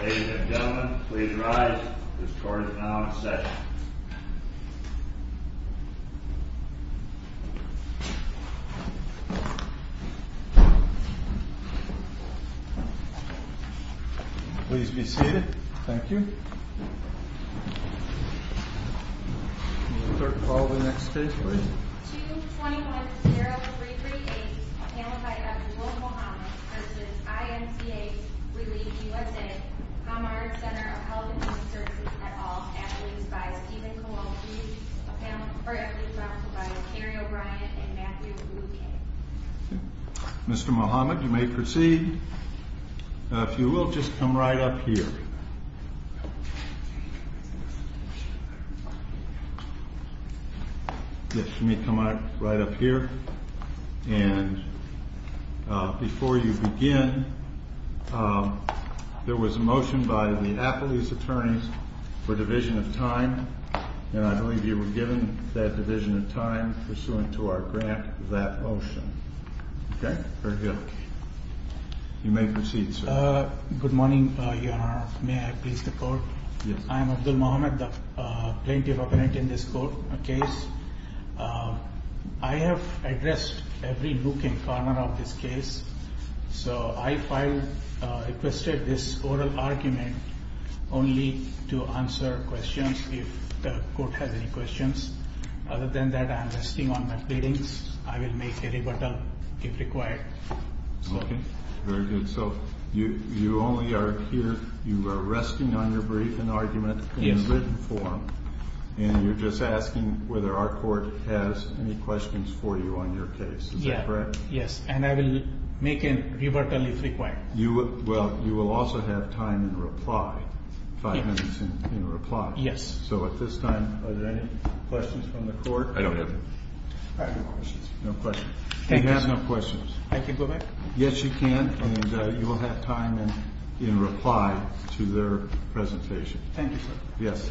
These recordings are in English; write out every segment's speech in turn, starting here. Ladies and gentlemen, please rise. This court is now in session. Please be seated. Thank you. Court, call the next case, please. Mr. Muhammad, you may proceed. If you will, just come right up here. Yes, you may come right up here. And before you begin, there was a motion by the Affilies Attorneys for division of time, and I believe you were given that division of time pursuant to our grant of that motion. Okay? Very good. You may proceed, sir. Good morning, Your Honor. May I please the court? Yes. I am Abdul Muhammad, plaintiff operant in this court case. I have addressed every nook and corner of this case, so I requested this oral argument only to answer questions, if the court has any questions. Other than that, I am resting on my pleadings. I will make a rebuttal, if required. Okay. Very good. So you only are here, you are resting on your brief and argument in written form, and you're just asking whether our court has any questions for you on your case. Is that correct? Yes. And I will make a rebuttal, if required. Well, you will also have time in reply, five minutes in reply. Yes. So at this time, are there any questions from the court? I don't have any. I have no questions. No questions. Thank you. I have no questions. I can go back? Yes, you can, and you will have time in reply to their presentation. Thank you, sir. Yes.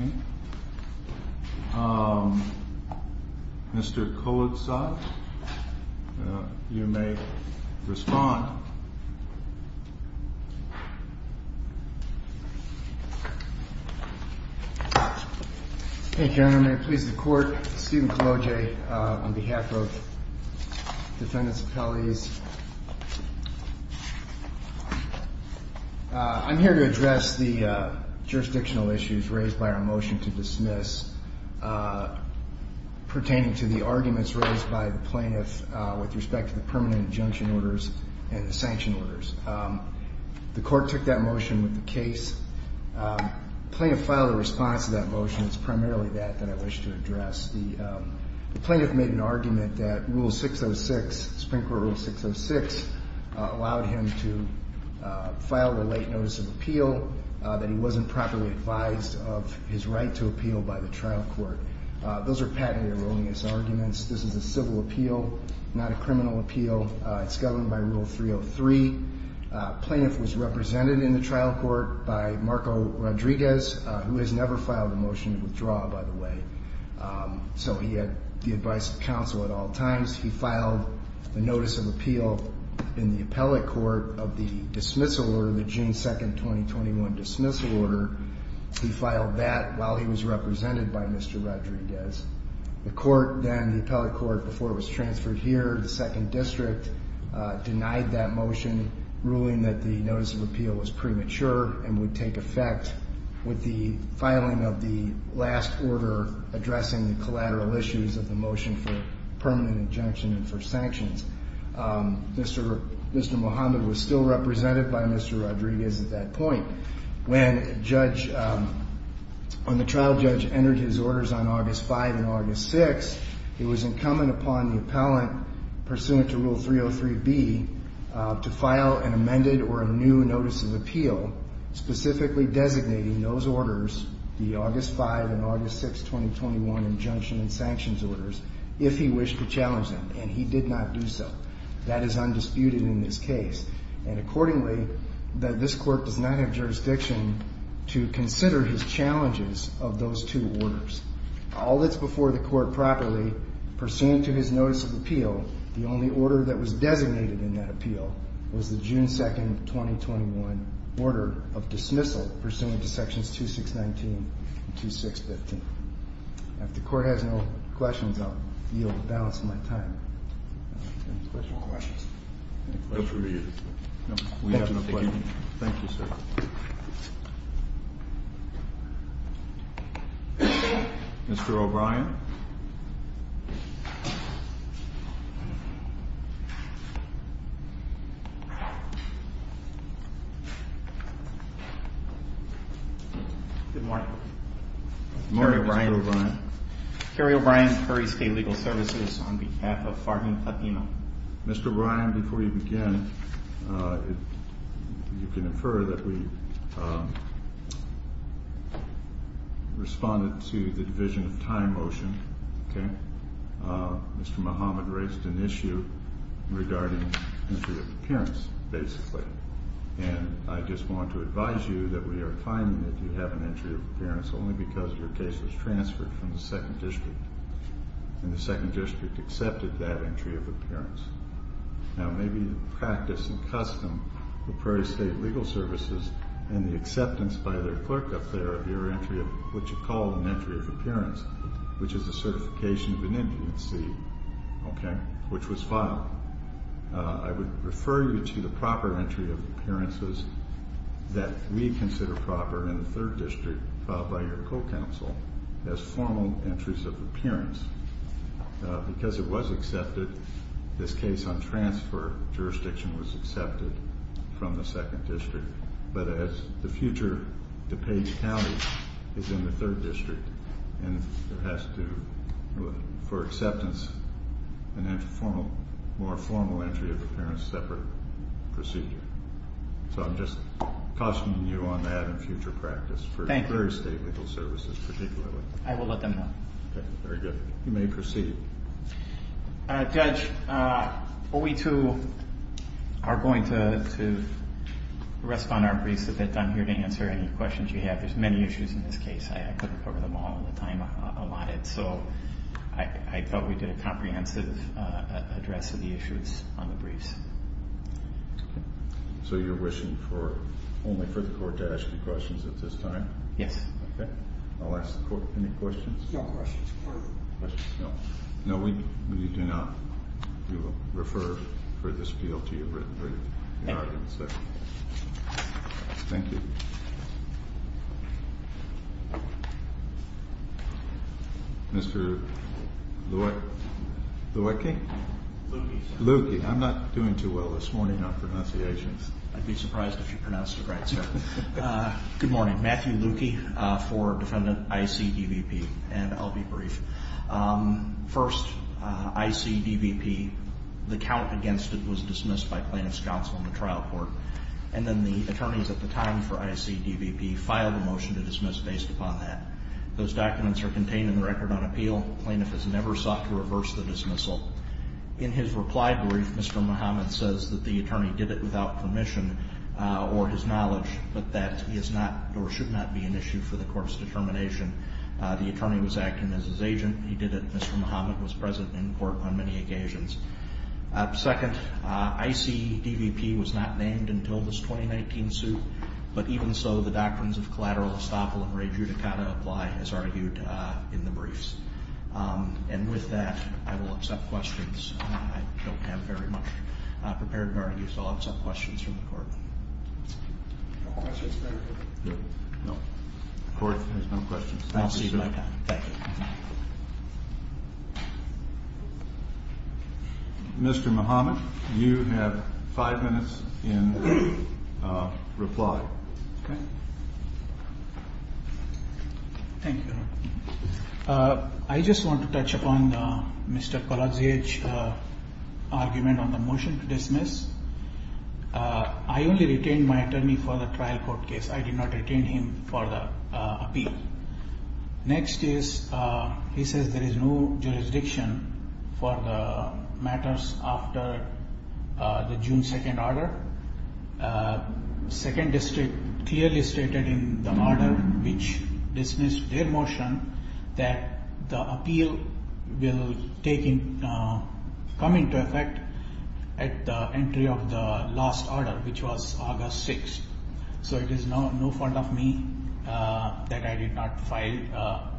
Okay. Mr. Kolodzad, you may respond. Thank you, Your Honor. May it please the court, Stephen Kolodzad on behalf of Defendants Appellees. I'm here to address the jurisdictional issues raised by our motion to dismiss pertaining to the arguments raised by the plaintiff with respect to the permanent injunction orders and the sanction orders. The court took that motion with the case. The plaintiff filed a response to that motion. It's primarily that that I wish to address. The plaintiff made an argument that Rule 606, Supreme Court Rule 606, allowed him to file a late notice of appeal, that he wasn't properly advised of his right to appeal by the trial court. Those are patented erroneous arguments. This is a civil appeal, not a criminal appeal. It's governed by Rule 303. Plaintiff was represented in the trial court by Marco Rodriguez, who has never filed a motion to withdraw, by the way. So he had the advice of counsel at all times. He filed a notice of appeal in the appellate court of the dismissal order, the June 2, 2021 dismissal order. He filed that while he was represented by Mr. Rodriguez. The court then, the appellate court before it was transferred here, the second district, denied that motion, ruling that the notice of appeal was premature and would take effect with the filing of the last order addressing the collateral issues of the motion for permanent injunction and for sanctions. Mr. Mohamed was still represented by Mr. Rodriguez at that point. When the trial judge entered his orders on August 5 and August 6, it was incumbent upon the appellant, pursuant to Rule 303B, to file an amended or a new notice of appeal, specifically designating those orders, the August 5 and August 6, 2021 injunction and sanctions orders, if he wished to challenge them. And he did not do so. That is undisputed in this case. And accordingly, this court does not have jurisdiction to consider his challenges of those two orders. All that's before the court properly, pursuant to his notice of appeal, the only order that was designated in that appeal was the June 2, 2021 order of dismissal, pursuant to Sections 2619 and 2615. If the court has no questions, I'll yield the balance of my time. Any questions? No, we have no questions. Thank you, sir. Mr. O'Brien? Good morning. Good morning, Mr. O'Brien. Cary O'Brien, Curry State Legal Services, on behalf of Farm and Latino. Mr. O'Brien, before you begin, you can infer that we responded to the Division of Time motion, okay? Mr. Muhammad raised an issue regarding entry of appearance, basically. And I just want to advise you that we are finding that you have an entry of appearance only because your case was transferred from the 2nd District. And the 2nd District accepted that entry of appearance. Now, maybe the practice and custom of Prairie State Legal Services and the acceptance by their clerk up there of your entry of what you call an entry of appearance, which is a certification of an infancy, okay, which was filed. I would refer you to the proper entry of appearances that we consider proper in the 3rd District filed by your co-counsel as formal entries of appearance. Because it was accepted, this case on transfer jurisdiction was accepted from the 2nd District. But as the future DuPage County is in the 3rd District, and it has to, for acceptance, a more formal entry of appearance separate procedure. So I'm just cautioning you on that in future practice for Prairie State Legal Services particularly. I will let them know. Okay, very good. You may proceed. Judge, are we to, are going to rest on our briefs at this time here to answer any questions you have? There's many issues in this case. I couldn't cover them all in the time allotted. So I thought we did a comprehensive address of the issues on the briefs. So you're wishing for, only for the court to ask you questions at this time? Yes. Okay. I'll ask the court, any questions? No questions. Questions? No. No, we do not. We will refer for this appeal to your written brief. Thank you. Thank you. Mr. Luecke? Luecke, sir. Luecke. I'm not doing too well this morning on pronunciations. I'd be surprised if you pronounced it right, sir. Good morning. Matthew Luecke for Defendant I.C. DVP, and I'll be brief. First, I.C. DVP, the count against it was dismissed by plaintiff's counsel in the trial court. And then the attorneys at the time for I.C. DVP filed a motion to dismiss based upon that. Those documents are contained in the record on appeal. Plaintiff has never sought to reverse the dismissal. In his reply brief, Mr. Muhammad says that the attorney did it without permission or his knowledge, but that is not or should not be an issue for the court's determination. The attorney was acting as his agent. He did it. Mr. Muhammad was present in court on many occasions. Second, I.C. DVP was not named until this 2019 suit. But even so, the doctrines of collateral estoppel and rejudicata apply, as argued in the briefs. And with that, I will accept questions. I don't have very much prepared to argue, so I'll accept questions from the court. Questions, sir? No. The court has no questions. I'll take my time. Thank you. Mr. Muhammad, you have five minutes in reply. Okay. Thank you, Your Honor. I just want to touch upon Mr. Koladze's argument on the motion to dismiss. I only retained my attorney for the trial court case. I did not retain him for the appeal. Next is, he says there is no jurisdiction for the matters after the June 2nd order. Second district clearly stated in the order which dismissed their motion that the appeal will come into effect at the entry of the last order, which was August 6th. So it is no fault of me that I did not file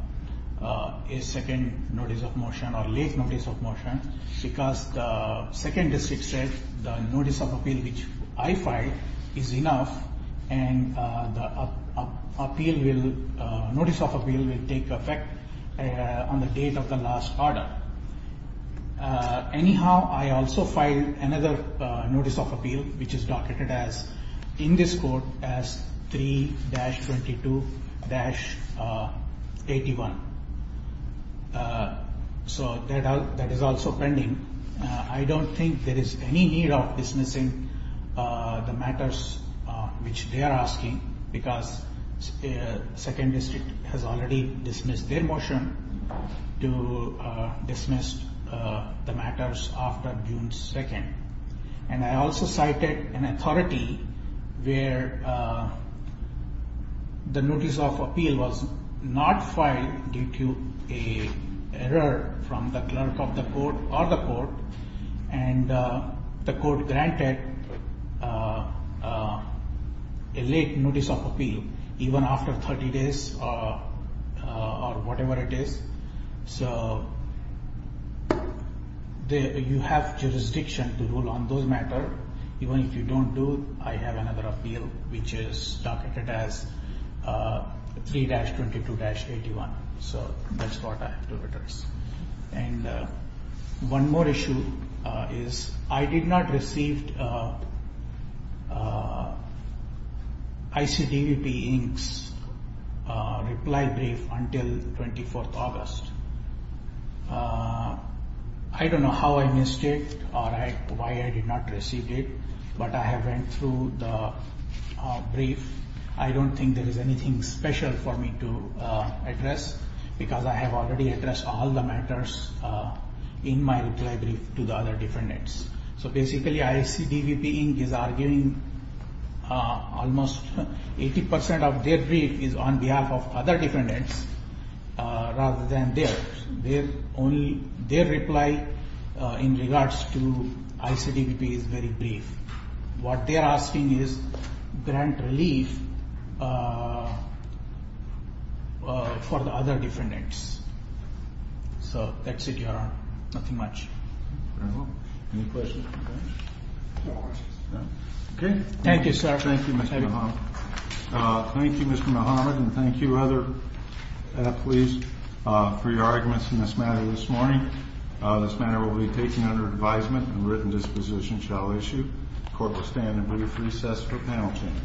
a second notice of motion or late notice of motion because the second district said the notice of appeal which I filed is enough and the notice of appeal will take effect on the date of the last order. Anyhow, I also filed another notice of appeal which is documented in this court as 3-22-81. So that is also pending. I don't think there is any need of dismissing the matters which they are asking because second district has already dismissed their motion to dismiss the matters after June 2nd. And I also cited an authority where the notice of appeal was not filed due to an error from the clerk of the court or the court and the court granted a late notice of appeal even after 30 days or whatever it is. So you have jurisdiction to rule on those matters. Even if you don't do, I have another appeal which is documented as 3-22-81. So that's what I have to address. And one more issue is I did not receive ICDVP Inc.'s reply brief until 24th August. I don't know how I missed it or why I did not receive it. But I have went through the brief. I don't think there is anything special for me to address because I have already addressed all the matters in my reply brief to the other defendants. So basically ICDVP Inc. is arguing almost 80% of their brief is on behalf of other defendants rather than theirs. Their reply in regards to ICDVP is very brief. What they are asking is grant relief for the other defendants. So that's it. You are on. Nothing much. Any questions? No questions. Okay. Thank you, sir. Thank you, Mr. Muhammad. Thank you, Mr. Muhammad, and thank you other athletes for your arguments in this matter this morning. This matter will be taken under advisement and written disposition shall issue. Court will stand in brief recess for panel change.